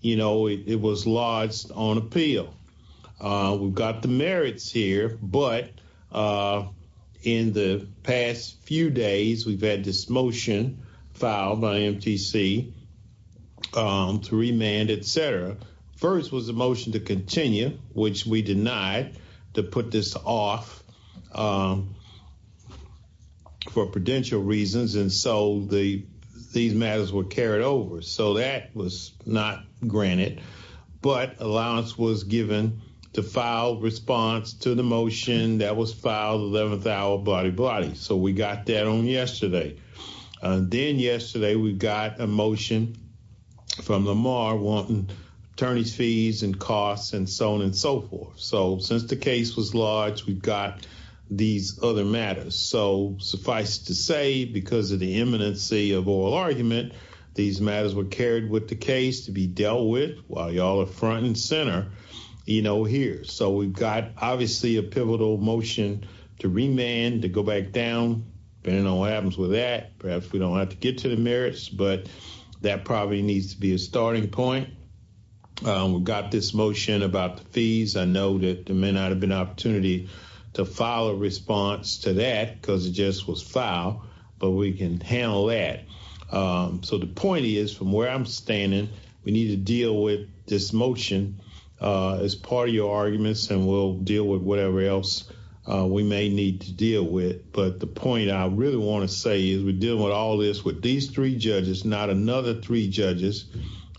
You know, it was lodged on appeal. We've got the merits here, but in the past few days, we've had this motion filed by MTC to remand, etc. First was the motion to continue, which we denied to put this off for prudential reasons, and so these matters were carried over. So that was not granted, but allowance was given to file response to the motion that was filed, 11th hour, blahdy blahdy. So we got that on yesterday. Then yesterday, we got a motion from Lamar wanting attorney's fees and costs and so on and so forth. So since the case was lodged, we've got these other matters. So suffice to say, because of the imminency of oral argument, these matters were carried with the case to be dealt with while y'all are front and center, you know, here. So we've got obviously a pivotal motion to remand, to go back down, depending on what happens with that. Perhaps we don't have to get to the merits, but that probably needs to be a starting point. We've got this motion about the fees. I know that there may not have been an opportunity to file a response to that because it just was filed, but we can handle that. So the point is, from where I'm standing, we need to deal with this motion as part of your arguments, and we'll deal with whatever else we may need to deal with. But the point I really want to say is we're dealing with all this with these three judges, not another three judges,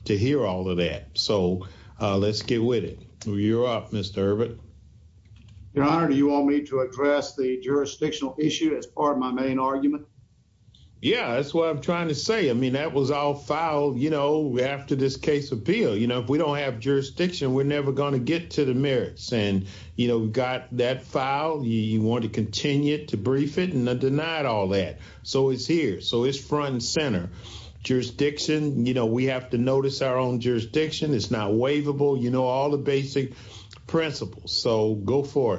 to hear all of that. So let's get with it. You're up, Mr. Herbert. Your Honor, do you want me to address the jurisdictional issue as part of my main argument? Yeah, that's what I'm trying to say. I mean, that was all filed, you know, after this case appeal. You know, if we don't have jurisdiction, we're never going to get to the merits. And, you know, we've got that file. You want to continue to brief it, and I denied all that. So it's here. So it's front and center. Jurisdiction, you know, we have to notice our jurisdiction. It's not waivable. You know all the basic principles. So go for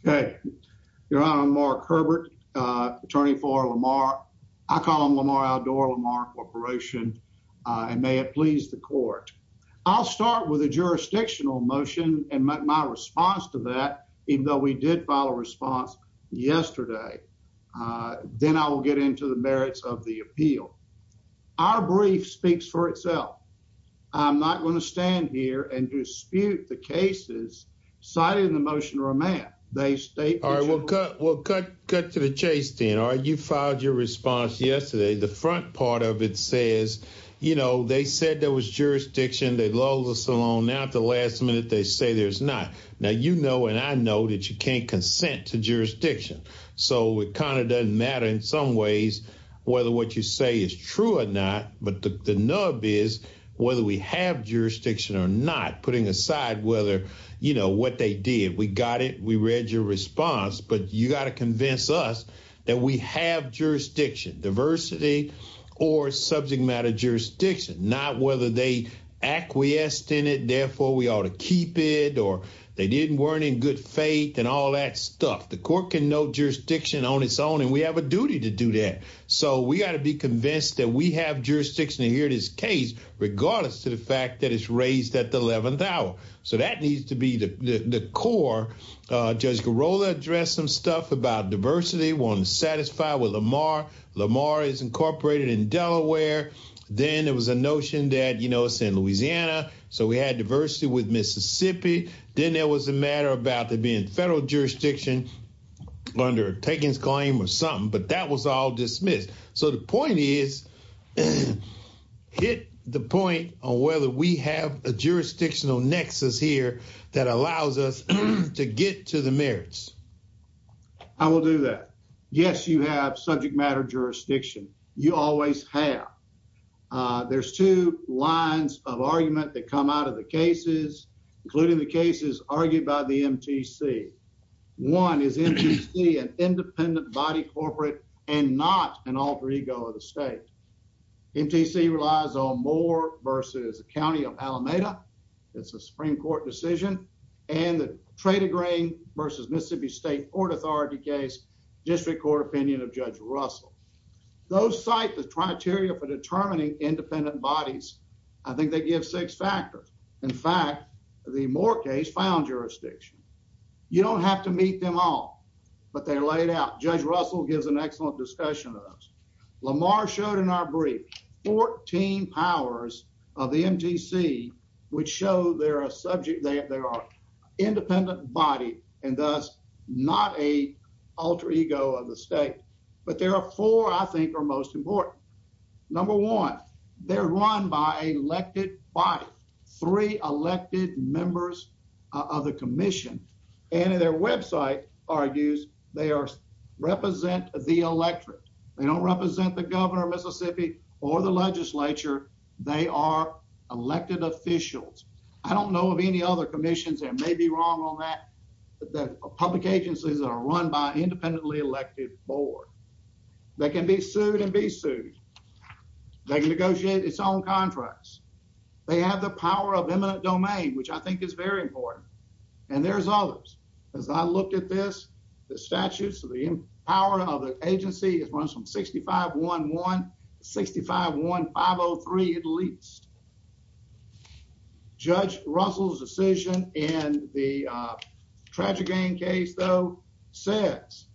it. Okay. Your Honor, I'm Mark Herbert, attorney for Lamar. I call him Lamar Aldor, Lamar Corporation, and may it please the court. I'll start with a jurisdictional motion and my response to that, even though we did file a response yesterday. Then I will get into the merits of the appeal. Our brief speaks for itself. I'm not going to stand here and dispute the cases citing the motion of remand. All right, we'll cut to the chase then. All right, you filed your response yesterday. The front part of it says, you know, they said there was jurisdiction. They lulled us along. Now at the last minute, they say there's not. Now you know, and I know, that you can't consent to jurisdiction. So it kind of doesn't matter in some ways whether what you say is true or not, but the nub is whether we have jurisdiction or not, putting aside whether, you know, what they did. We got it. We read your response, but you got to convince us that we have jurisdiction, diversity or subject matter jurisdiction. Not whether they acquiesced in it, therefore we ought to keep it, or they didn't, weren't in good faith and all that stuff. The court can note jurisdiction on its own, we have a duty to do that. So we got to be convinced that we have jurisdiction here in this case, regardless to the fact that it's raised at the 11th hour. So that needs to be the core. Judge Girola addressed some stuff about diversity, wanting to satisfy with Lamar. Lamar is incorporated in Delaware. Then there was a notion that, you know, it's in Louisiana, so we had diversity with Mississippi. Then there was a matter about there being federal jurisdiction under Taken's claim or something, but that was all dismissed. So the point is, hit the point on whether we have a jurisdictional nexus here that allows us to get to the merits. I will do that. Yes, you have subject matter jurisdiction. You always have. There's two lines of argument that come out of the cases, including the cases argued by the MTC. One is MTC, an independent body corporate and not an alter ego of the state. MTC relies on Moore versus the county of Alameda. It's a Supreme Court decision. And the trade of grain versus Mississippi State Court Authority case, district court opinion of Judge Russell. Those cite the criteria for determining independent bodies. I think they give six factors. In fact, the Moore case found jurisdiction. You don't have to meet them all, but they're laid out. Judge Russell gives an excellent discussion of those. Lamar showed in our brief 14 powers of the MTC, which show they're a subject, they are independent body and thus not a alter ego of the state. But there are four I think are most important. Number one, they're run by elected by three elected members of the commission and their website argues they are represent the electorate. They don't represent the governor of Mississippi or the legislature. They are elected officials. I don't know of any other commissions. There may be wrong on that. The public agencies are run by independently elected board. They can be sued and be sued. They can negotiate its own contracts. They have the power of eminent domain, which I think is very important. And there's others. As I looked at this, the statutes of the power of the agency is runs from 65 11 65 1 503. At least Judge Russell's decision in the tragic gain case, though, says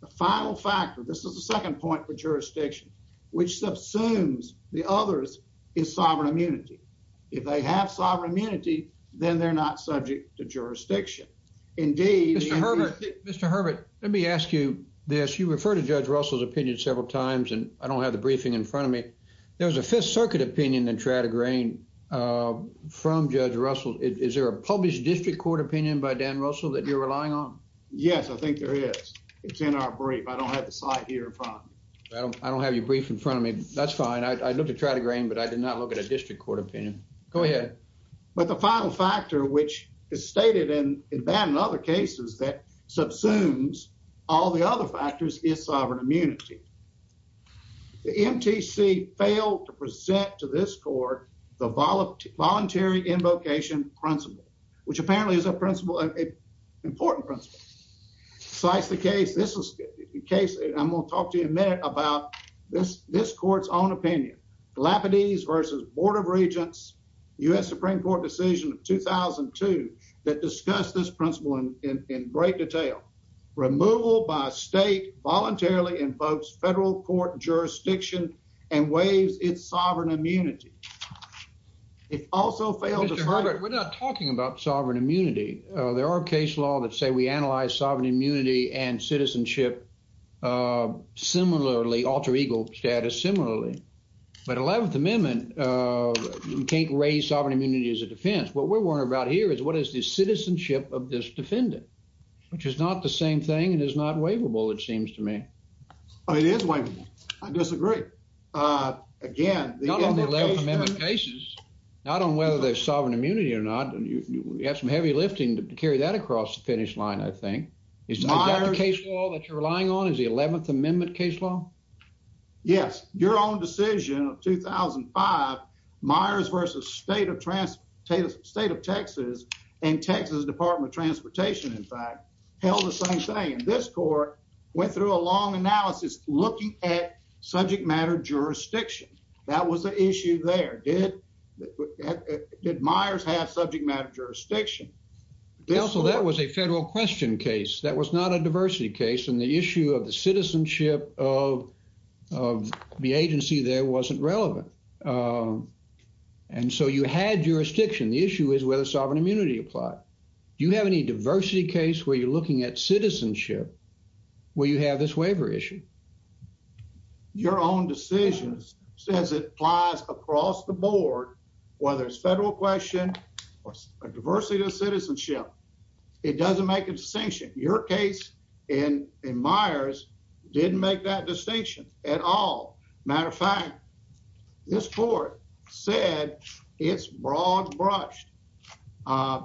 the final factor. This is the second point for jurisdiction, which subsumes the others is sovereign immunity. If they have sovereign immunity, then they're not subject to jurisdiction. Indeed, Mr Herbert, Mr Herbert, let me ask you this. You refer to Judge Russell's opinion several times, and I don't have the briefing in front of There was a Fifth Circuit opinion and try to grain from Judge Russell. Is there a published district court opinion by Dan Russell that you're relying on? Yes, I think there is. It's in our brief. I don't have the site here. I don't have you brief in front of me. That's fine. I looked to try to grain, but I did not look at a district court opinion. Go ahead. But the final factor, which is stated and abandoned other cases that subsumes all the other factors is sovereign immunity. The MTC failed to present to this court the voluntary involcation principle, which apparently is a principle, important principle. Slice the case. This is the case. I'm gonna talk to you in a minute about this. This court's own opinion. Galapagos versus Board of Regents. U. S Supreme Court decision of 2000 and two that discussed this principle in great detail. Removal by state voluntarily invokes federal court jurisdiction and waives its sovereign immunity. It also failed. We're not talking about sovereign immunity. There are case law that say we analyze sovereign immunity and citizenship. Uh, similarly, alter ego status. Similarly, but 11th Amendment, uh, you can't raise sovereign immunity as a defense. What we're worried about here is what is the citizenship of this defendant, which is not the same thing and is not waivable, it seems to me. It is way. I disagree. Uh, again, cases not on whether they're sovereign immunity or not. You have some heavy lifting to carry that across the finish line. I think it's not a case all that you're relying on is the 11th Amendment case law. Yes, your own decision of 2000 and five Myers versus state of transportation, state of Texas and Texas Department of Transportation, in fact, held the same thing. And this court went through a long analysis looking at subject matter jurisdiction. That was the issue there. Did did Myers have subject matter jurisdiction? Also, that was a federal question case. That was not a diversity case. And the issue of the agency there wasn't relevant. Um, and so you had jurisdiction. The issue is whether sovereign immunity apply. Do you have any diversity case where you're looking at citizenship where you have this waiver issue? Your own decisions says it applies across the board, whether it's federal question or a diversity of citizenship. It doesn't make a distinction. Your case in Myers didn't make that distinction at all. Matter of fact, this court said it's broad brushed. Uh,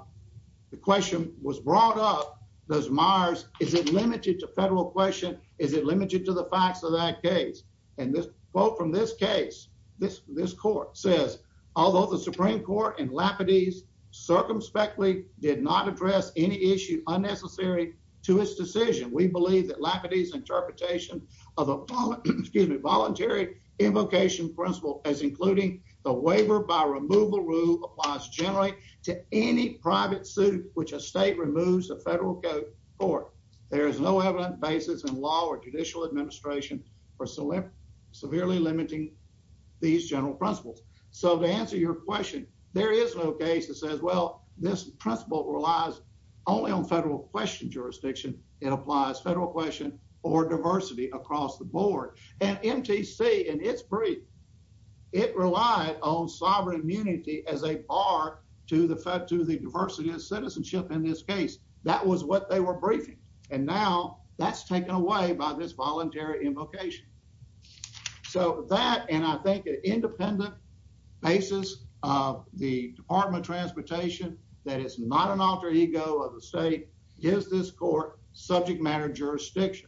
the question was brought up. Does Myers is it limited to federal question? Is it limited to the facts of that case? And this quote from this case, this this court says, Although the Supreme Court and Lapidus circumspectly did not address any issue unnecessary to his decision, we believe that Lapidus interpretation of a voluntary invocation principle as including the waiver by removal rule applies generally to any private suit, which a state removes the federal court. There is no evident basis in law or judicial administration for select severely limiting these general principles. So to answer your question, there is no case that says, well, this principle relies only on federal question jurisdiction. It applies federal question or diversity across the board and MTC and it's brief. It relied on sovereign immunity as a bar to the fed to the diversity of citizenship. In this case, that was what they were briefing, and now that's taken away by this voluntary invocation. So that, and I think an independent basis of the Department of Transportation, that is not an alter ego of the state. Is this court subject matter jurisdiction?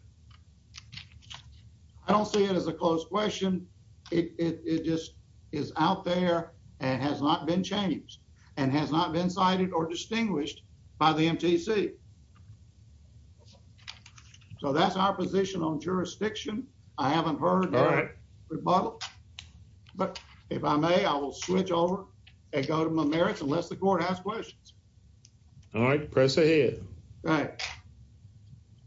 I don't see it as a closed question. It just is out there and has not been changed and has not been cited or distinguished by the MTC. So that's our position on jurisdiction. I haven't heard all right rebuttal, but if I may, I will switch over and go to my merits unless the court has questions. All right, press ahead, right?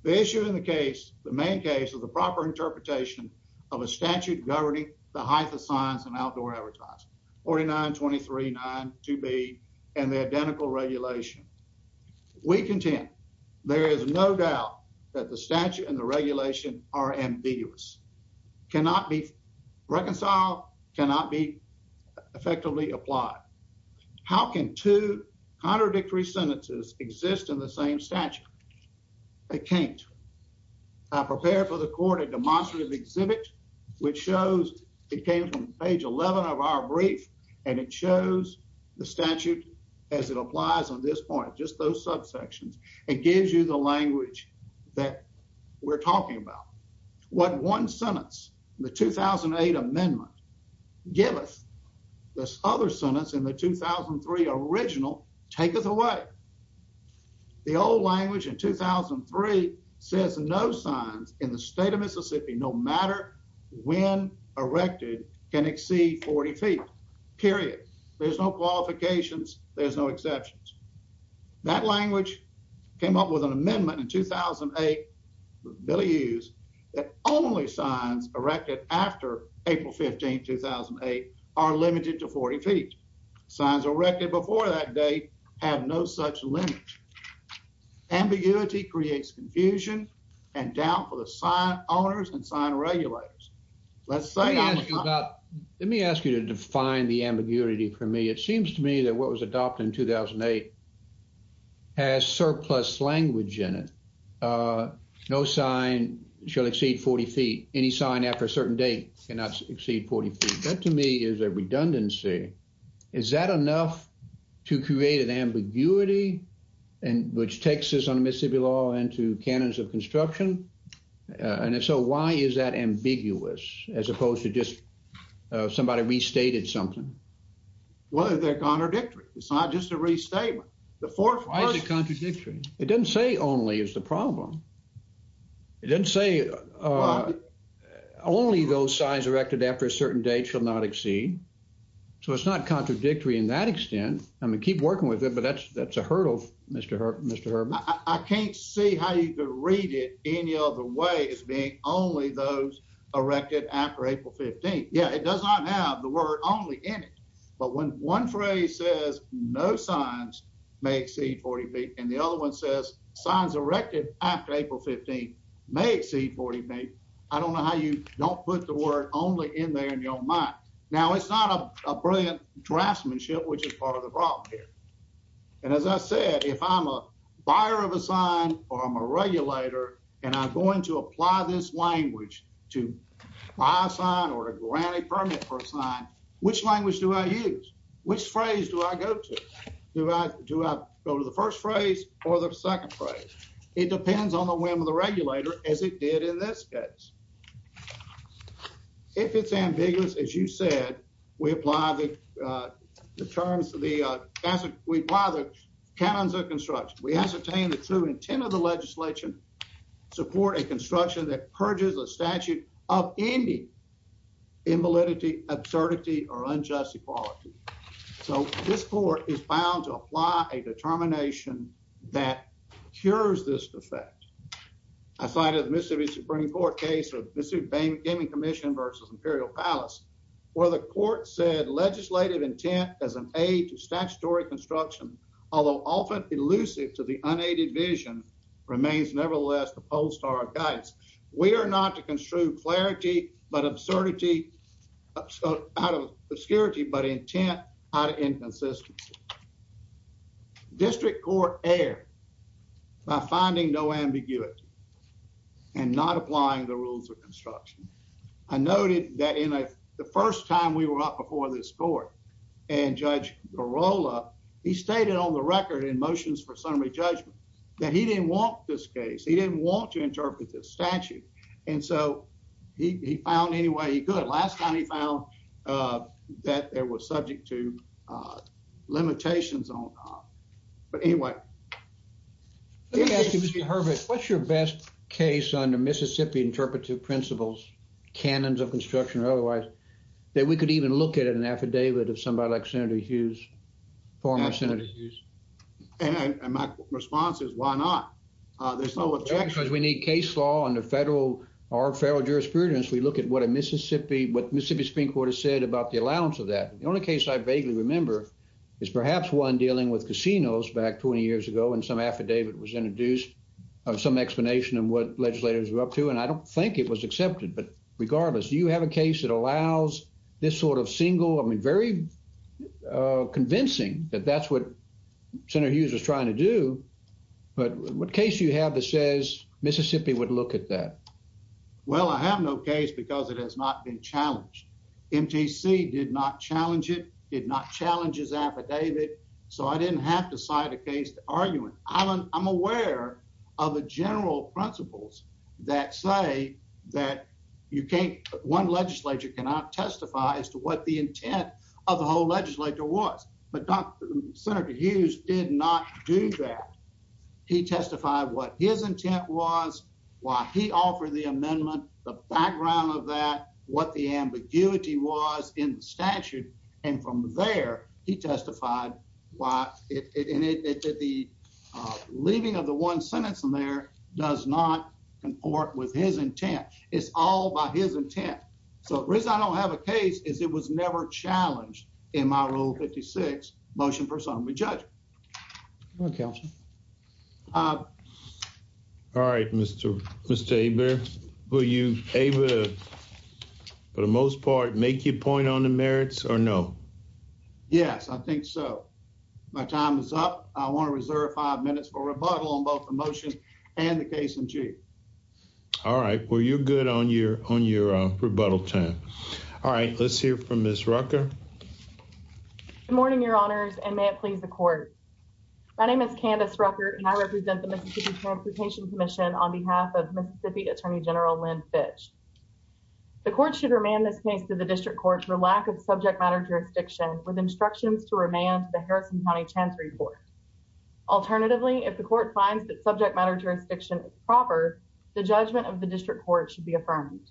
The issue in the case, the main case of the proper interpretation of a statute governing the height of science and outdoor advertising 49 23 9 to be and the identical regulation. We contend there is no doubt that the statute and the regulation are ambiguous, cannot be reconciled, cannot be effectively applied. How can two contradictory sentences exist in the same statute? It can't. I prepared for the court a demonstrative exhibit, which shows it came from page 11 of our brief, and it shows the statute as it applies on this point, just those subsections. It gives you the language that we're talking about. What one sentence, the 2008 amendment, give us this other sentence in the 2003 original take us away. The old language in 2003 says no signs in the state of Mississippi no matter when erected can exceed 40 feet. Period. There's no qualifications. There's no exceptions. That language came up with an amendment in 2008. Billy use that only signs erected after April 15 2008 are limited to 40 feet. Signs erected before that day have no such limit. Ambiguity creates confusion and doubt for the sign owners and sign regulators. Let's say that. Let me ask you to define the ambiguity for me. It seems to me that what was adopted in 2008 has surplus language in it. No sign shall exceed 40 feet. Any sign after a certain date cannot exceed 40 feet. That to me is a redundancy. Is that enough to create an ambiguity and which Texas on Mississippi law into cannons of construction? And if so, why is that ambiguous as opposed to just somebody restated something? Well, they're contradictory. It's not just a restatement. The fourth contradictory. It didn't say only is the problem. It didn't say only those signs erected after a certain date shall not exceed. So it's not contradictory in that extent. I mean, keep working with it, but that's that's a hurdle. Mr. Mr. I can't see how you could read it any other way as being only those erected after April 15th. Yeah, it does not have the word only in it, but when one phrase says no signs may exceed 40 feet and the other one says signs erected after April 15th may exceed 40 feet. I don't know how you don't put the word only in there in your mind. Now, it's not a brilliant draftsmanship, which is part of the problem here. And as I said, if I'm a buyer of a sign or I'm a regulator and I'm going to apply this language to buy a sign or to grant a permit for a sign, which language do I use? Which phrase do I go to? Do I do I go to the first phrase or the second phrase? It depends on the whim of the regulator, as it did in this case. If it's ambiguous, as you said, we apply the terms of the we apply the canons of construction. We ascertain the true intent of the legislation support a construction that purges a statute of any. Invalidity, absurdity or unjust equality. So this court is bound to apply a determination that cures this defect. I cited Mississippi Supreme Court case of Missou Bay Gaming Commission versus Imperial Palace, where the court said legislative intent as an aid to statutory construction, although often elusive to the unaided vision, remains nevertheless opposed to our guides. We are not to construe clarity, but absurdity out of obscurity, but intent out of inconsistency. District Court erred by finding no ambiguity and not applying the rules of construction. I noted that in the first time we were up before this court and Judge Barola, he stated on the record in motions for summary judgment that he didn't want this case. He didn't want to interpret this statute, and so he found any way he could. Last time he found that there was subject to principles, canons of construction or otherwise, that we could even look at an affidavit of somebody like Senator Hughes, former Senator Hughes. And my response is, why not? There's no objection. Because we need case law under federal jurisprudence. We look at what Mississippi Supreme Court has said about the allowance of that. The only case I vaguely remember is perhaps one dealing with casinos back 20 years ago, and some affidavit was introduced of some explanation of what legislators were up to, and I don't think it was accepted. But regardless, do you have a case that allows this sort of single, I mean, very convincing that that's what Senator Hughes was trying to do? But what case do you have that says Mississippi would look at that? Well, I have no case because it has not been challenged. MTC did not challenge it, did not challenge his affidavit, so I didn't have to cite a case argument. I'm aware of the general principles that say that you can't, one legislature cannot testify as to what the intent of the whole legislature was. But Senator Hughes did not do that. He testified what his intent was, why he offered the amendment, the background of that, what the ambiguity was in the statute, and from there, he testified why it, and it did the leaving of the one sentence in there does not comport with his intent. It's all by his intent. So the reason I don't have a case is it was never challenged in my Rule 56 motion. Personally, Judge. All right, Mr. Aber, were you able to, for the most part, make your point on the merits or no? Yes, I think so. My time is up. I want to reserve five minutes for rebuttal on both the motion and the case in chief. All right, well, you're good on your rebuttal time. All right, let's hear from Ms. Rucker. Good morning, Your Honors, and may it please the court. My name is Candace Rucker, and I represent the Mississippi Transportation Commission on behalf of Mississippi Attorney General Lynn Fitch. The court should remand this case to the district court for lack of subject matter jurisdiction with instructions to remand the Harrison County Chancery Court. Alternatively, if the court finds that subject matter jurisdiction is proper, the judgment of the district court should be affirmed.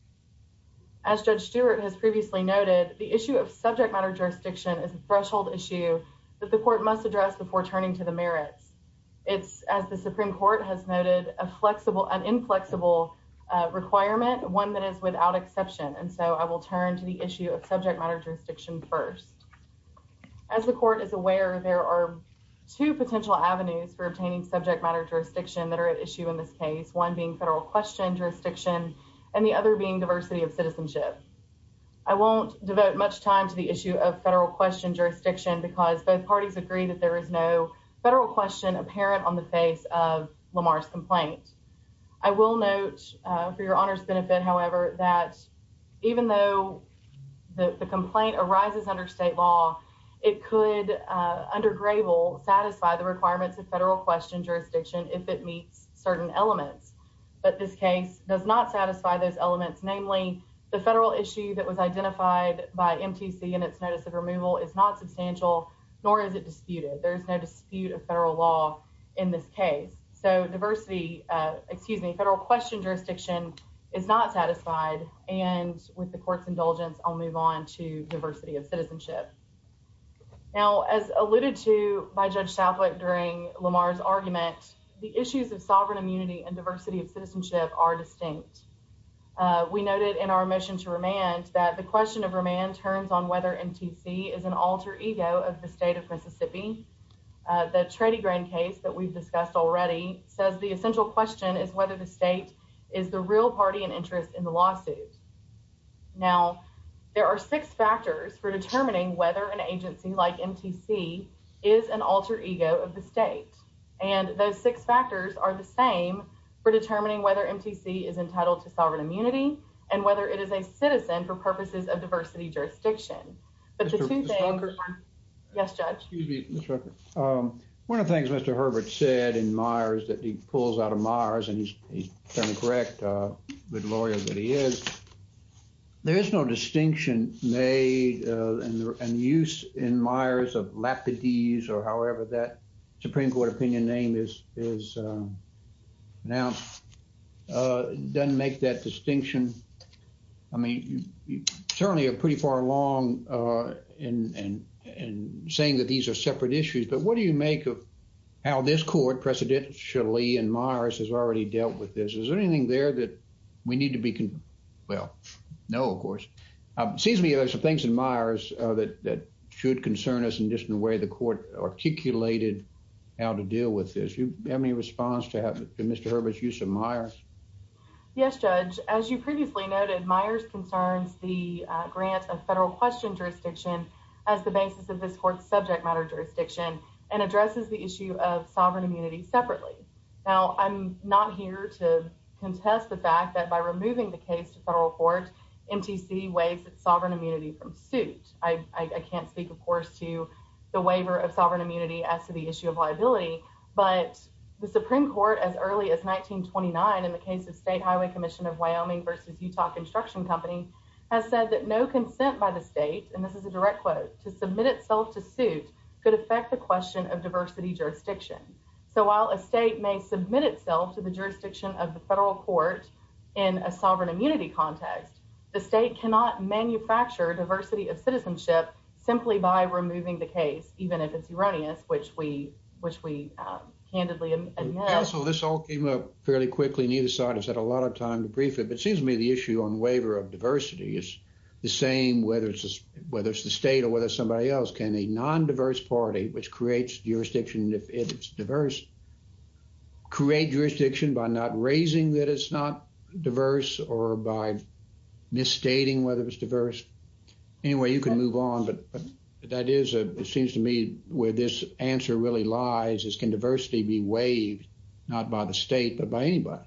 As Judge Stewart has previously noted, the issue of subject matter jurisdiction is a threshold issue that the court must address before turning to the merits. It's, as the Supreme Court has noted, a flexible and inflexible requirement, one that is without exception. And so I will turn to the issue of subject matter jurisdiction first. As the court is aware, there are two potential avenues for obtaining subject matter jurisdiction that are at issue in this case, one being federal question jurisdiction, and the other being diversity of citizenship. I won't devote much time to the issue of federal question jurisdiction because both parties agree that there is no federal question apparent on the face of Lamar's complaint. I will note for Your Honors' benefit, however, that even though the complaint arises under state law, it could, under Grable, satisfy the requirements of federal question jurisdiction if it meets certain elements. But this case does not satisfy those elements. Namely, the federal issue that was identified by MTC in its notice of removal is not substantial, nor is it disputed. There is no dispute of federal law in this case. So diversity, excuse me, federal question jurisdiction is not satisfied, and with the court's indulgence, I'll Now, as alluded to by Judge Southwick during Lamar's argument, the issues of sovereign immunity and diversity of citizenship are distinct. We noted in our motion to remand that the question of remand turns on whether MTC is an alter ego of the state of Mississippi. The Trady Grain case that we've discussed already says the essential question is whether the state is the real party and interest in the lawsuit. Now, there are six factors for determining whether an agency like MTC is an alter ego of the state, and those six factors are the same for determining whether MTC is entitled to sovereign immunity and whether it is a citizen for purposes of diversity jurisdiction. But the two things, yes, Judge? Excuse me, Ms. Rucker. One of the things Mr. Herbert said in Myers that he pulls out of Myers, and he's fairly correct, good lawyer that he is, there is no distinction made in the use in Myers of Lapidese or however that Supreme Court opinion name is now, doesn't make that distinction. I mean, you certainly are pretty far along in saying that these are separate issues, but what do you make of how this court precedentially in Myers has already dealt with this? Is there anything there that we need to be, well, no, of course. It seems to me there's some things in Myers that should concern us in just the way the court articulated how to deal with this. Do you have any response to Mr. Herbert's use of Myers? Yes, Judge. As you previously noted, Myers concerns the grant of federal question jurisdiction as the basis of this court's subject matter jurisdiction and addresses the issue of sovereign immunity separately. Now, I'm not here to contest the fact that by removing the case to federal court, MTC waives its sovereign immunity from suit. I can't speak, of course, to the waiver of sovereign immunity as to the issue of liability, but the Supreme Court as early as 1929 in the case of State Highway Commission of Wyoming versus Utah Construction Company has said that no consent by the state, and this is a direct quote, to affect the question of diversity jurisdiction. So while a state may submit itself to the jurisdiction of the federal court in a sovereign immunity context, the state cannot manufacture diversity of citizenship simply by removing the case, even if it's erroneous, which we, which we candidly admit. Counsel, this all came up fairly quickly. Neither side has had a lot of time to brief it, but it seems to me the issue on waiver of diversity is the same whether it's, whether it's the state or whether somebody else can. A non-diverse party, which creates jurisdiction if it's diverse, create jurisdiction by not raising that it's not diverse or by misstating whether it's diverse. Anyway, you can move on, but that is a, it seems to me where this answer really lies is can diversity be waived, not by the state, but by anybody?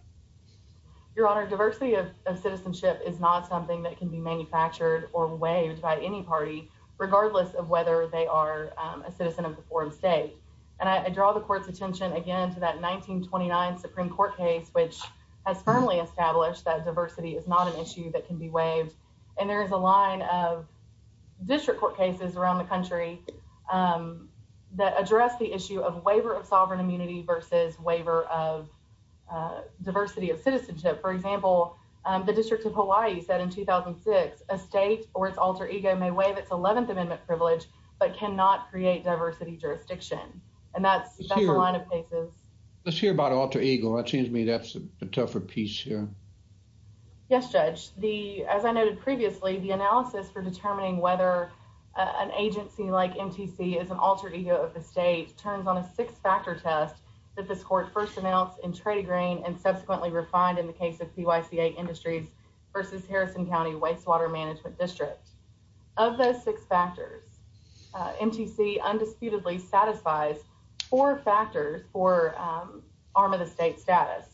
Your honor, diversity of citizenship is not something that can be manufactured or waived by any party, regardless of whether they are a citizen of the foreign state. And I draw the court's attention again to that 1929 Supreme Court case, which has firmly established that diversity is not an issue that can be waived. And there is a line of district court cases around the country that address the issue of waiver of sovereign a state or its alter ego may waive its 11th Amendment privilege, but cannot create diversity jurisdiction. And that's, that's a line of cases. Let's hear about alter ego. That seems to me that's a tougher piece here. Yes, Judge. The, as I noted previously, the analysis for determining whether an agency like MTC is an alter ego of the state turns on a six factor test that this court first announced in Trady Green and subsequently refined in the case of PYCA Industries versus Harrison County Wastewater Management District. Of those six factors, MTC undisputedly satisfies four factors for arm of the state status.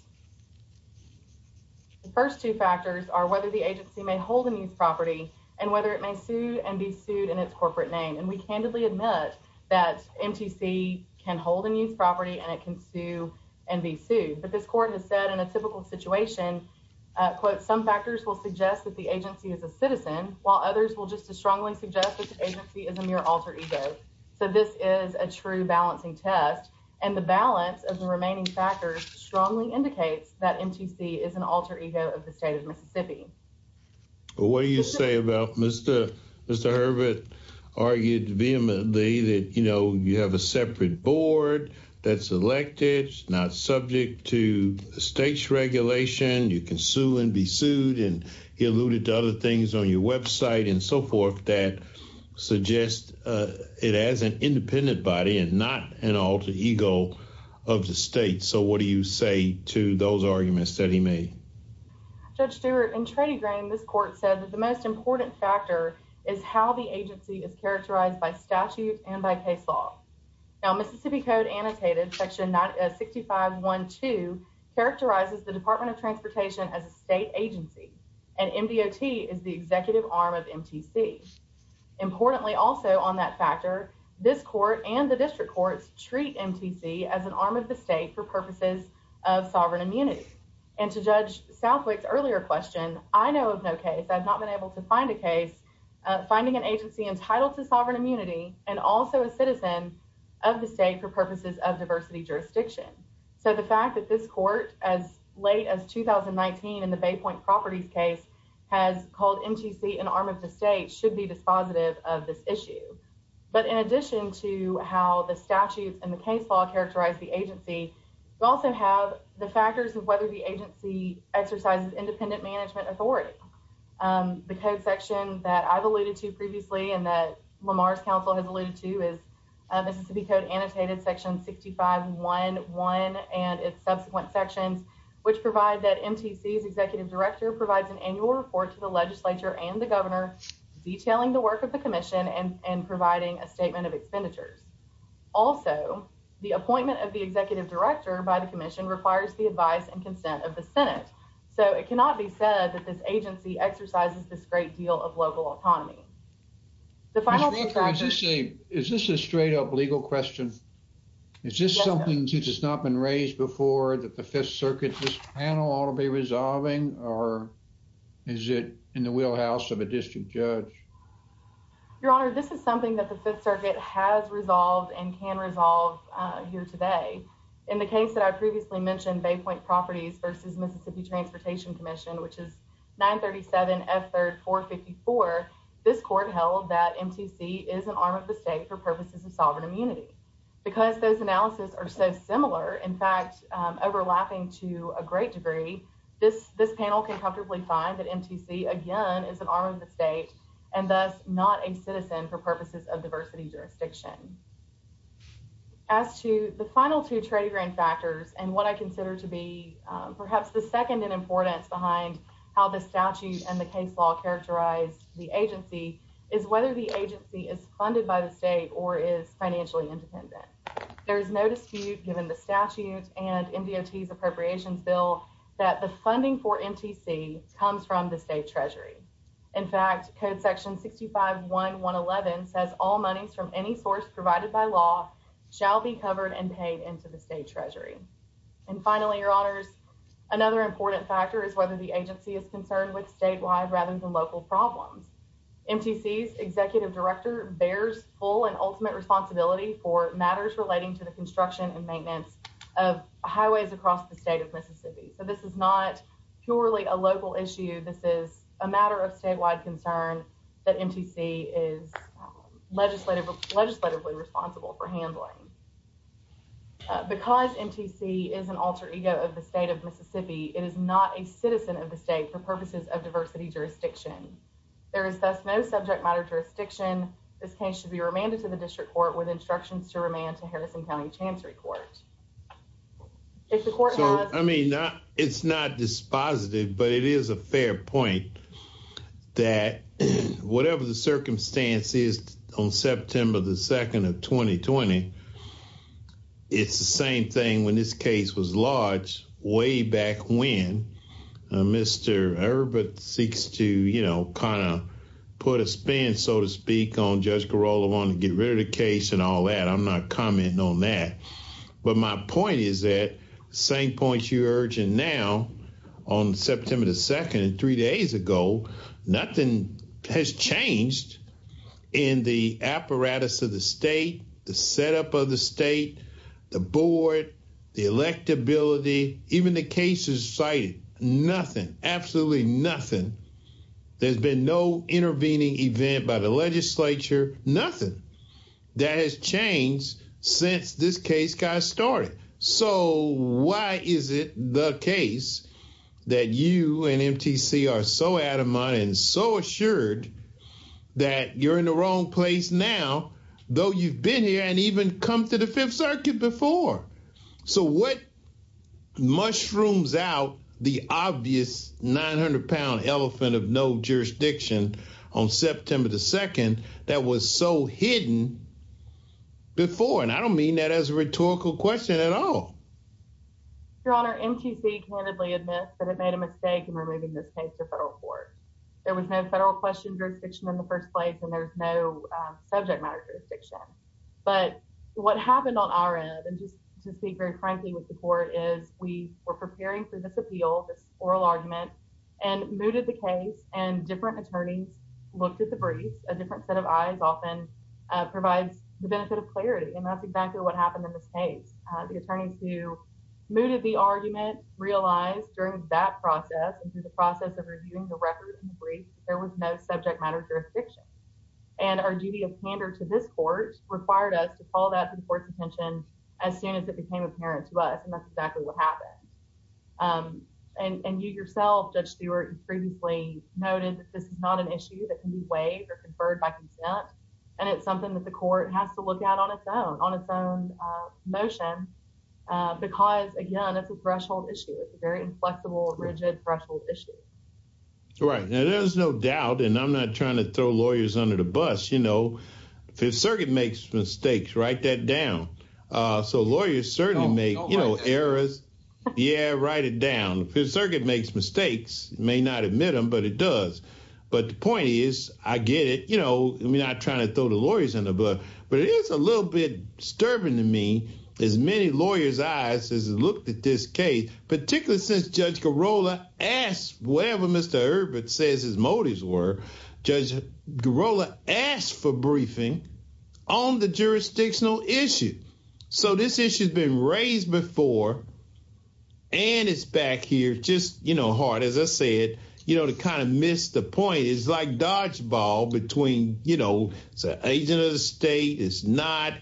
The first two factors are whether the agency may hold a new property and whether it may sue and be sued in its corporate name. And we candidly admit that MTC can hold a new property and it can sue and be sued. But this court has said in a typical situation, quote, some factors will suggest that the agency is a citizen while others will just as strongly suggest that the agency is a mere alter ego. So this is a true balancing test and the balance of the remaining factors strongly indicates that MTC is an alter ego of the state of Mississippi. What do you say about Mr. Mr. Herbert argued vehemently that, you know, you have a separate board that's elected, not subject to state's regulation. You can sue and be sued. And he alluded to other things on your website and so forth that suggest it as an independent body and not an alter ego of the state. So what do you say to those arguments that he made? Judge Stewart, in Trady Green, this court said that the most important factor is how the agency is characterized by statute and by case law. Now, Mississippi Code Annotated Section 6512 characterizes the Department of Transportation as a state agency and MDOT is the executive arm of MTC. Importantly, also on that factor, this court and the district courts treat MTC as an arm of the state for I know of no case, I've not been able to find a case, finding an agency entitled to sovereign immunity and also a citizen of the state for purposes of diversity jurisdiction. So the fact that this court as late as 2019 in the Bay Point Properties case has called MTC an arm of the state should be dispositive of this issue. But in addition to how the statutes and the case law characterize the agency, we also have the factors of whether the agency exercises independent management authority. The code section that I've alluded to previously and that Lamar's Council has alluded to is Mississippi Code Annotated Section 6511 and its subsequent sections, which provide that MTC's executive director provides an annual report to the legislature and the governor detailing the work of the commission and providing a statement of expenditures. Also, the appointment of the executive director by the commission requires the advice and consent of the Senate. So it cannot be said that this agency exercises this great deal of local autonomy. The final factor is this a straight up legal question? Is this something that has not been raised before that the Fifth Circuit panel ought to be resolving or is it in the wheelhouse of a district judge? Your Honor, this is something that the Fifth Circuit has resolved and can resolve here today. In the case that I previously mentioned, Bay Point Properties versus Mississippi Transportation Commission, which is 937 F3rd 454, this court held that MTC is an arm of the state for purposes of sovereign immunity. Because those analysis are so similar, in fact, overlapping to a great degree, this panel can comfortably find that MTC, again, is an arm of and thus not a citizen for purposes of diversity jurisdiction. As to the final two trading grant factors and what I consider to be perhaps the second in importance behind how the statute and the case law characterize the agency is whether the agency is funded by the state or is financially independent. There is no dispute given the statute and MDOT's appropriations bill that the funding for MTC comes from the state treasury. In fact, Code Section 65.1.111 says all monies from any source provided by law shall be covered and paid into the state treasury. And finally, Your Honors, another important factor is whether the agency is concerned with statewide rather than local problems. MTC's executive director bears full and ultimate responsibility for matters relating to the construction and maintenance of highways across the state of Mississippi. So this is not purely a local issue. This is a matter of statewide concern that MTC is legislatively responsible for handling. Because MTC is an alter ego of the state of Mississippi, it is not a citizen of the state for purposes of diversity jurisdiction. There is thus no subject matter jurisdiction. This case should be remanded to the district court with instructions to remand to Harrison County Chancery Court. If the court has... So, I mean, it's not dispositive, but it is a fair point that whatever the circumstance is on September the 2nd of 2020, it's the same thing when this case was lodged way back when Mr. Herbert seeks to, you know, kind of put a spin, so to speak, on Judge Garola wanting to get a case and all that. I'm not commenting on that. But my point is that the same points you're urging now on September the 2nd and three days ago, nothing has changed in the apparatus of the state, the setup of the state, the board, the electability, even the cases cited. Nothing. Absolutely nothing. There's been no intervening event by the legislature, nothing that has changed since this case got started. So, why is it the case that you and MTC are so adamant and so assured that you're in the wrong place now, though you've been here and come to the Fifth Circuit before? So, what mushrooms out the obvious 900-pound elephant of no jurisdiction on September the 2nd that was so hidden before? And I don't mean that as a rhetorical question at all. Your Honor, MTC candidly admits that it made a mistake in removing this case to federal court. There was no federal question jurisdiction in the first place, and there's no subject matter jurisdiction. But what happened on our end, and just to speak very frankly with the court, is we were preparing for this appeal, this oral argument, and mooted the case, and different attorneys looked at the briefs. A different set of eyes often provides the benefit of clarity, and that's exactly what happened in this case. The attorneys who mooted the argument realized during that process and through the process of reviewing the record brief, there was no subject matter jurisdiction. And our duty of candor to this court required us to call that to the court's attention as soon as it became apparent to us, and that's exactly what happened. And you yourself, Judge Stewart, previously noted that this is not an issue that can be waived or conferred by consent, and it's something that the court has to look at on its own, on its own motion, because again, it's a threshold issue. It's a very inflexible, rigid threshold issue. Right, now there's no doubt, and I'm not trying to throw lawyers under the bus, you know, Fifth Circuit makes mistakes, write that down. So lawyers certainly make, you know, errors, yeah, write it down. Fifth Circuit makes mistakes, may not admit them, but it does. But the point is, I get it, you know, I'm not trying to throw the lawyers under the bus, but it is a little bit disturbing to me, as many lawyers' eyes has looked at this case, particularly since Judge Girola asked, whatever Mr. Herbert says his motives were, Judge Girola asked for briefing on the jurisdictional issue. So this issue's been raised before, and it's back here, just, you know, hard, as I said, you know, to kind of miss the point. It's like dodgeball between, you know, it's an agent of the state, it's not,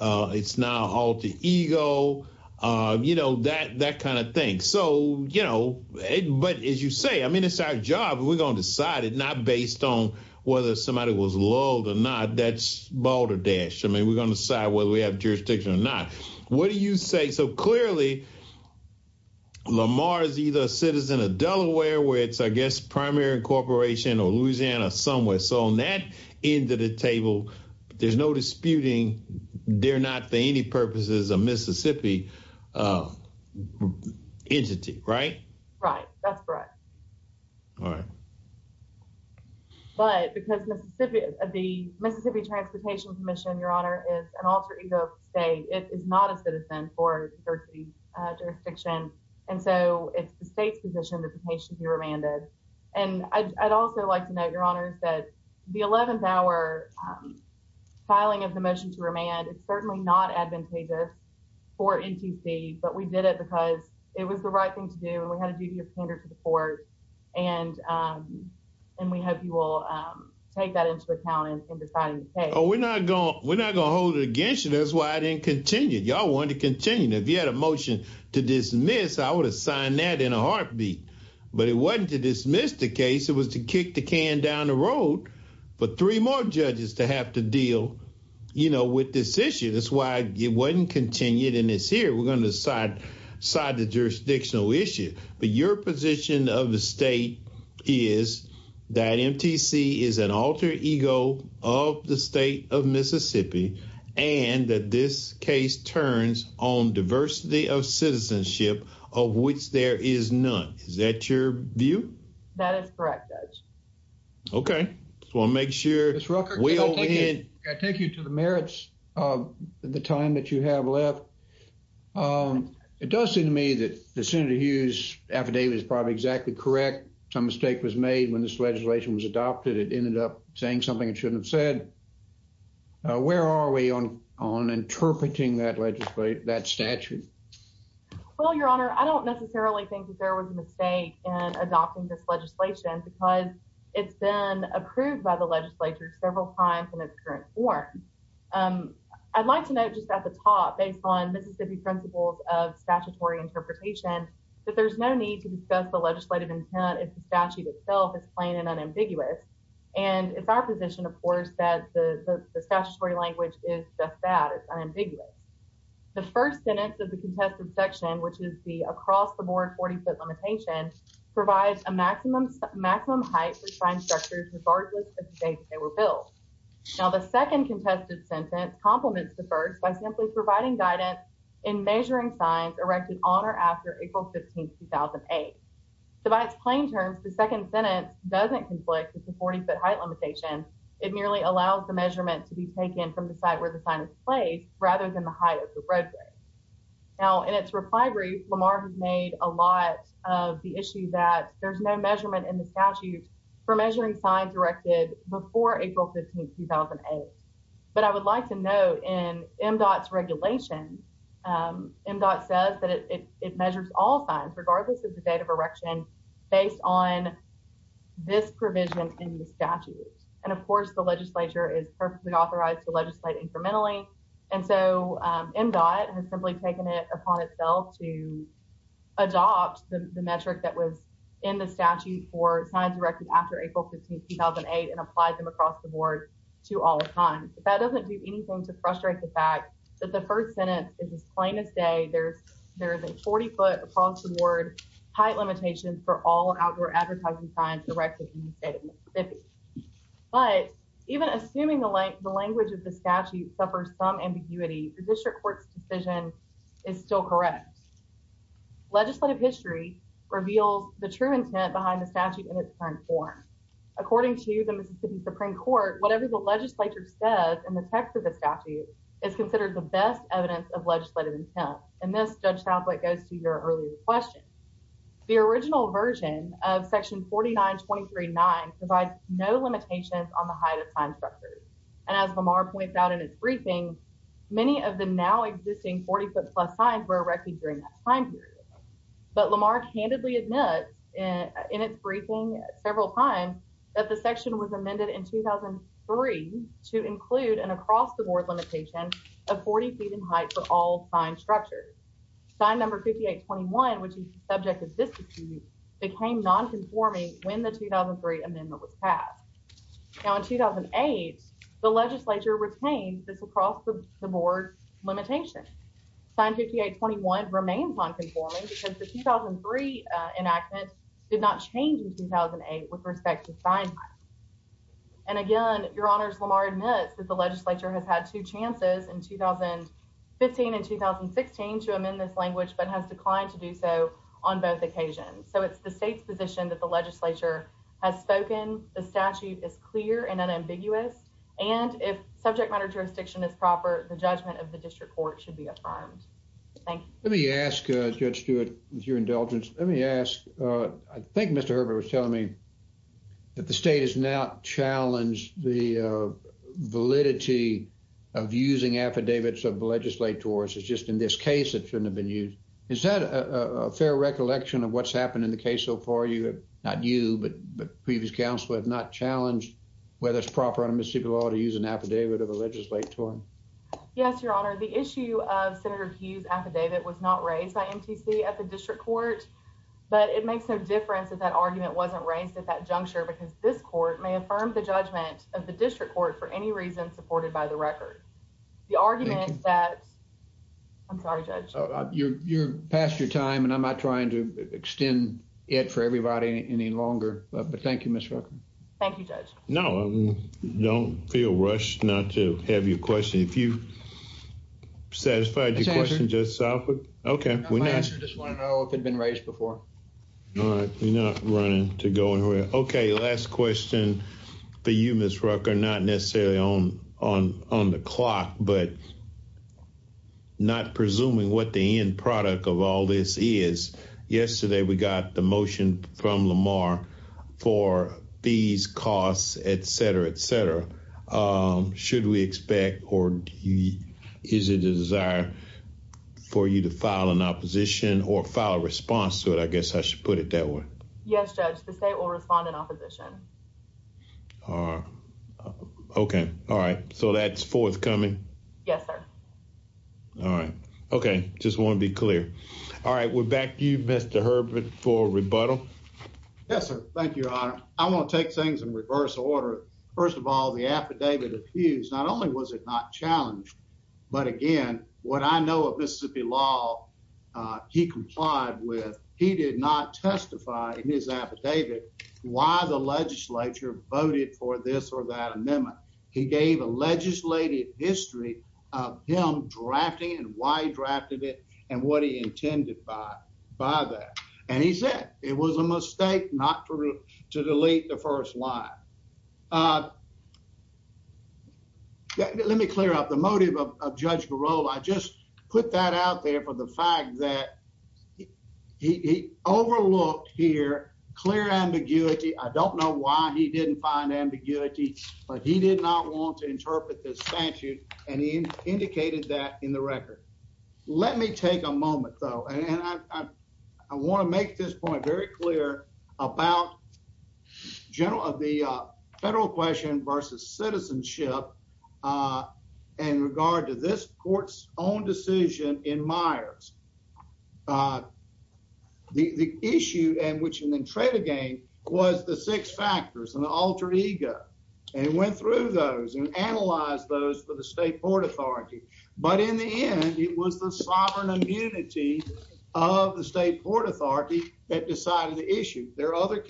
it's not alter ego, you know, that kind of thing. So, you know, but as you say, I mean, it's our job, we're going to decide it, not based on whether somebody was lulled or not, that's balderdash, I mean, we're going to decide whether we have jurisdiction or not. What do you say, so clearly Lamar is either a citizen of Delaware, where it's, I guess, primary incorporation, or Louisiana somewhere, so on that end of the table, there's no disputing, they're not, for any purposes, a Mississippi entity, right? Right, that's correct. All right. But because Mississippi, the Mississippi Transportation Commission, Your Honor, is an alter ego of the state, it is not a citizen for the jurisdiction, and so it's the state's position that the case should be remanded. And I'd also like to note, Your Honor, that the 11th hour filing of the motion to remand is certainly not advantageous for NTC, but we did it because it was the right thing to do, and we had a duty of candor to the court, and we hope you will take that into account in deciding the case. Oh, we're not going, we're not going to hold it against you, that's why I didn't continue, y'all wanted to continue. If you had a motion to dismiss, I would have signed that in a heartbeat, but it wasn't to dismiss the case, it was to kick the can down the road for three more judges to have to deal, you know, with this issue. That's why it wasn't continued, and it's here, we're going to decide the jurisdictional issue. But your position of the state is that NTC is an alter ego of the state of Mississippi, and that this case turns on diversity of citizenship, of which there is none. Is that your view? That is correct, Judge. Okay, just want to make sure. Ms. Rucker, can I take you to the merits of the time that you have left? It does seem to me that the Senator Hughes affidavit is probably exactly correct. Some mistake was made when this legislation was adopted, it ended up saying something it shouldn't have said. Where are we on interpreting that statute? Well, Your Honor, I don't necessarily think that there was a mistake in adopting this legislation because it's been approved by the legislature several times in its current form. I'd like to note just at the top, based on Mississippi principles of statutory interpretation, that there's no need to discuss the legislative intent if the statute itself is plain and unambiguous. And it's our position, of course, that the statutory language is just that, it's unambiguous. The first sentence of the contested section, which is the across-the-board 40-foot limitation, provides a maximum height for sign structures regardless of the date they were built. Now, the second contested sentence complements the first by simply providing guidance in measuring signs erected on or after April 15, 2008. So by its plain terms, the second sentence doesn't conflict with the 40-foot height limitation, it merely allows the measurement to be taken from the site where the sign is placed rather than the height of the roadway. Now, in its reply brief, Lamar has made a lot of the issue that there's no measurement in the statute for measuring signs erected before April 15, 2008. But I would like to note in MDOT's regulation, MDOT says that it measures all signs regardless of the date of construction. And of course, the legislature is perfectly authorized to legislate incrementally. And so MDOT has simply taken it upon itself to adopt the metric that was in the statute for signs erected after April 15, 2008 and applied them across-the-board to all signs. That doesn't do anything to frustrate the fact that the first sentence is as plain as day. There is a 40-foot across-the-board height limitation for all outdoor advertising signs erected in the state of Mississippi. But even assuming the language of the statute suffers some ambiguity, the district court's decision is still correct. Legislative history reveals the true intent behind the statute in its current form. According to the Mississippi Supreme Court, whatever the legislature says in the text of the statute is considered the best evidence of legislative intent. And this, Judge on the height of sign structures. And as Lamar points out in his briefing, many of the now-existing 40-foot-plus signs were erected during that time period. But Lamar candidly admits in its briefing several times that the section was amended in 2003 to include an across-the-board limitation of 40 feet in height for all sign structures. Sign number 5821, which is the subject of this became non-conforming when the 2003 amendment was passed. Now in 2008, the legislature retained this across-the-board limitation. Sign 5821 remains non-conforming because the 2003 enactment did not change in 2008 with respect to sign height. And again, Your Honors, Lamar admits that the legislature has had two chances in 2015 and 2016 to amend this language but has declined to do so on both occasions. So it's the state's position that the legislature has spoken, the statute is clear and unambiguous, and if subject matter jurisdiction is proper, the judgment of the district court should be affirmed. Thank you. Let me ask, Judge Stewart, with your indulgence, let me ask, I think Mr. Herbert was telling me that the state has now challenged the validity of using affidavits of legislators. It's just in this case, it shouldn't have been used. Is that a fair recollection of what's happened in the case so far? Not you, but previous counsel have not challenged whether it's proper under Mississippi law to use an affidavit of a legislator? Yes, Your Honor. The issue of Senator Hughes' affidavit was not raised by MTC at the district court, but it makes no difference if that argument wasn't raised at that juncture because this court may affirm the judgment of the district court for any reason supported by the record. The argument that, I'm sorry, Judge. You're past your time, and I'm not trying to extend it for everybody any longer, but thank you, Ms. Rucker. Thank you, Judge. No, don't feel rushed not to have your question. If you satisfied your question, Judge Salford. Okay, we're not. I just want to know if it had been raised before. All right, we're not running to go anywhere. Okay, last question for you, Ms. Rucker, not necessarily on the clock, but not presuming what the end product of all this is. Yesterday, we got the motion from Lamar for fees, costs, etc., etc. Should we expect or is it a desire for you to file an opposition or file a response to it? I would expect to file an opposition. Okay, all right, so that's forthcoming? Yes, sir. All right. Okay, just want to be clear. All right, we're back to you, Mr. Herbert, for rebuttal. Yes, sir. Thank you, Your Honor. I want to take things in reverse order. First of all, the affidavit accused, not only was it not challenged, but again, what I know of Mississippi law he complied with, he did not testify in his affidavit why the legislature voted for this or that amendment. He gave a legislated history of him drafting and why he drafted it and what he intended by that. And he said it was a mistake not to delete the first line. Let me clear up the motive of Judge Garold. I just put that out there for the fact that he overlooked here clear ambiguity. I don't know why he didn't find ambiguity, but he did not want to interpret this statute, and he indicated that in the record. Let me take a moment, though, and I want to make this point very clear about general of the federal question versus citizenship. Uh, and regard to this court's own decision in Myers. The issue and which and then trade again was the six factors and the altered ego and went through those and analyze those for the state Port Authority. But in the end, it was the sovereign immunity of the state Port Authority that decided the issue. There are other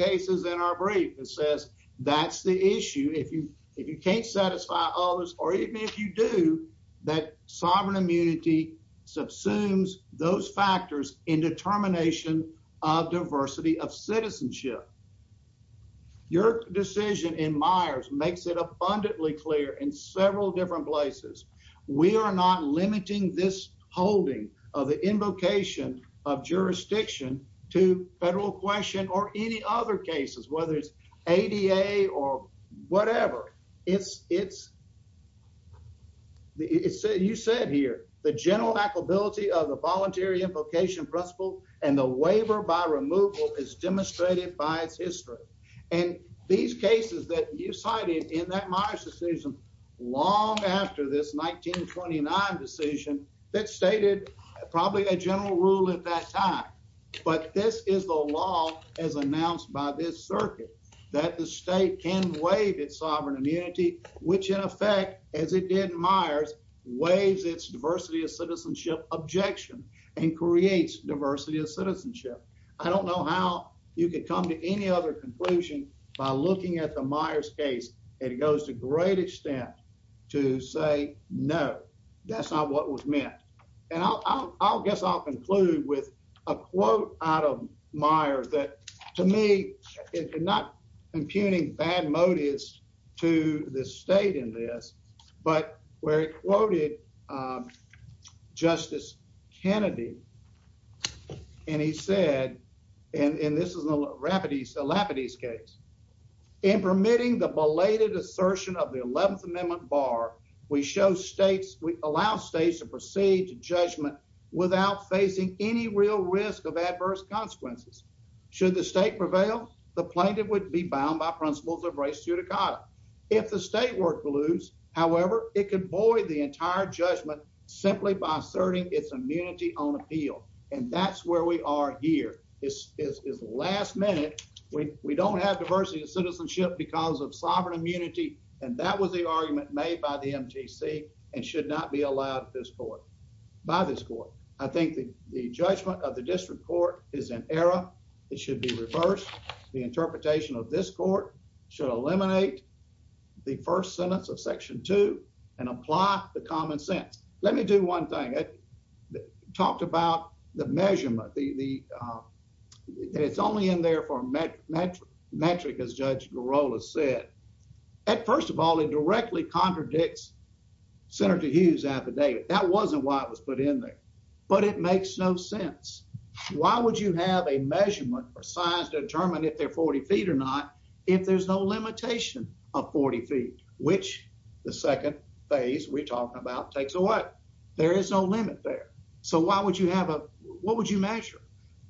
or even if you do that, sovereign immunity subsumes those factors in determination of diversity of citizenship. Your decision in Myers makes it abundantly clear in several different places. We are not limiting this holding of the invocation of jurisdiction to federal question or any other cases, whether it's 88 or whatever. It's it's. You said here the general applicability of the voluntary invocation principle and the waiver by removal is demonstrated by its history and these cases that you cited in that Myers decision long after this 1929 decision that stated probably a general rule at that time. But this is the law as announced by this circuit that the state can waive its sovereign immunity, which in effect, as it did in Myers, waves its diversity of citizenship objection and creates diversity of citizenship. I don't know how you could come to any other conclusion by looking at the Myers case. It goes to great extent to say no, that's not what was meant. And I guess I'll conclude with a quote out of Myers that to me is not impugning bad motives to this state in this, but where it quoted. Justice Kennedy. And he said, and this is a rapid ease the Lapidus case. In permitting the belated assertion of the 11th Amendment bar, we show states we allow states to proceed to judgment without facing any real risk of adverse consequences. Should the state prevail, the plaintiff would be bound by principles of race to Dakota. If the state were to lose, however, it could void the entire judgment simply by asserting its immunity on appeal. And that's where we are here is last minute. We don't have diversity of citizenship because of by this court. I think the judgment of the district court is an error. It should be reversed. The interpretation of this court should eliminate the first sentence of section two and apply the common sense. Let me do one thing that talked about the measurement, the it's only in there for metric as Judge Girola said. At first of all, it directly contradicts Senator Hughes affidavit. That wasn't why it was put in there, but it makes no sense. Why would you have a measurement for science to determine if they're 40 feet or not? If there's no limitation of 40 feet, which the second phase we're talking about takes away, there is no limit there. So why would you have a, what would you measure?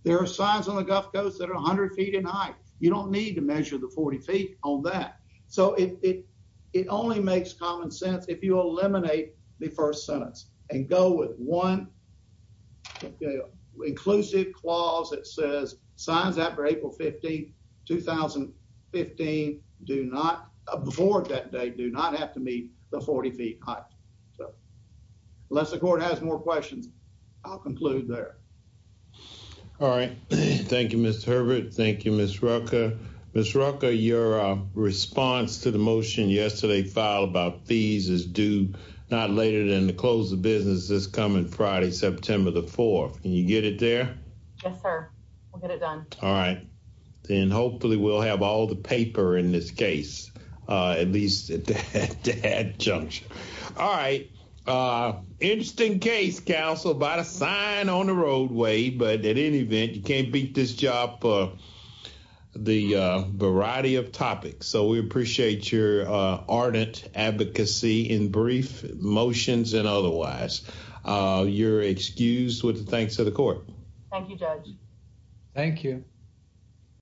There are signs on the Gulf Coast that are a hundred feet in height. You don't need to measure the 40 feet on that. So it, it, it only makes common sense. If you and go with one inclusive clause that says signs after April 15, 2015, do not, before that date, do not have to meet the 40 feet height. So unless the court has more questions, I'll conclude there. All right. Thank you, Mr. Herbert. Thank you, Ms. Rucker. Ms. Rucker, your response to the motion yesterday filed about fees is due not later than the close of business this coming Friday, September the 4th. Can you get it there? Yes, sir. We'll get it done. All right. Then hopefully we'll have all the paper in this case, at least at that juncture. All right. Interesting case, counsel, about a sign on the roadway, but at any event, you can't beat this job, the variety of topics. So we appreciate your ardent advocacy in brief motions and otherwise. You're excused with the thanks of the court. Thank you, Judge. Thank you.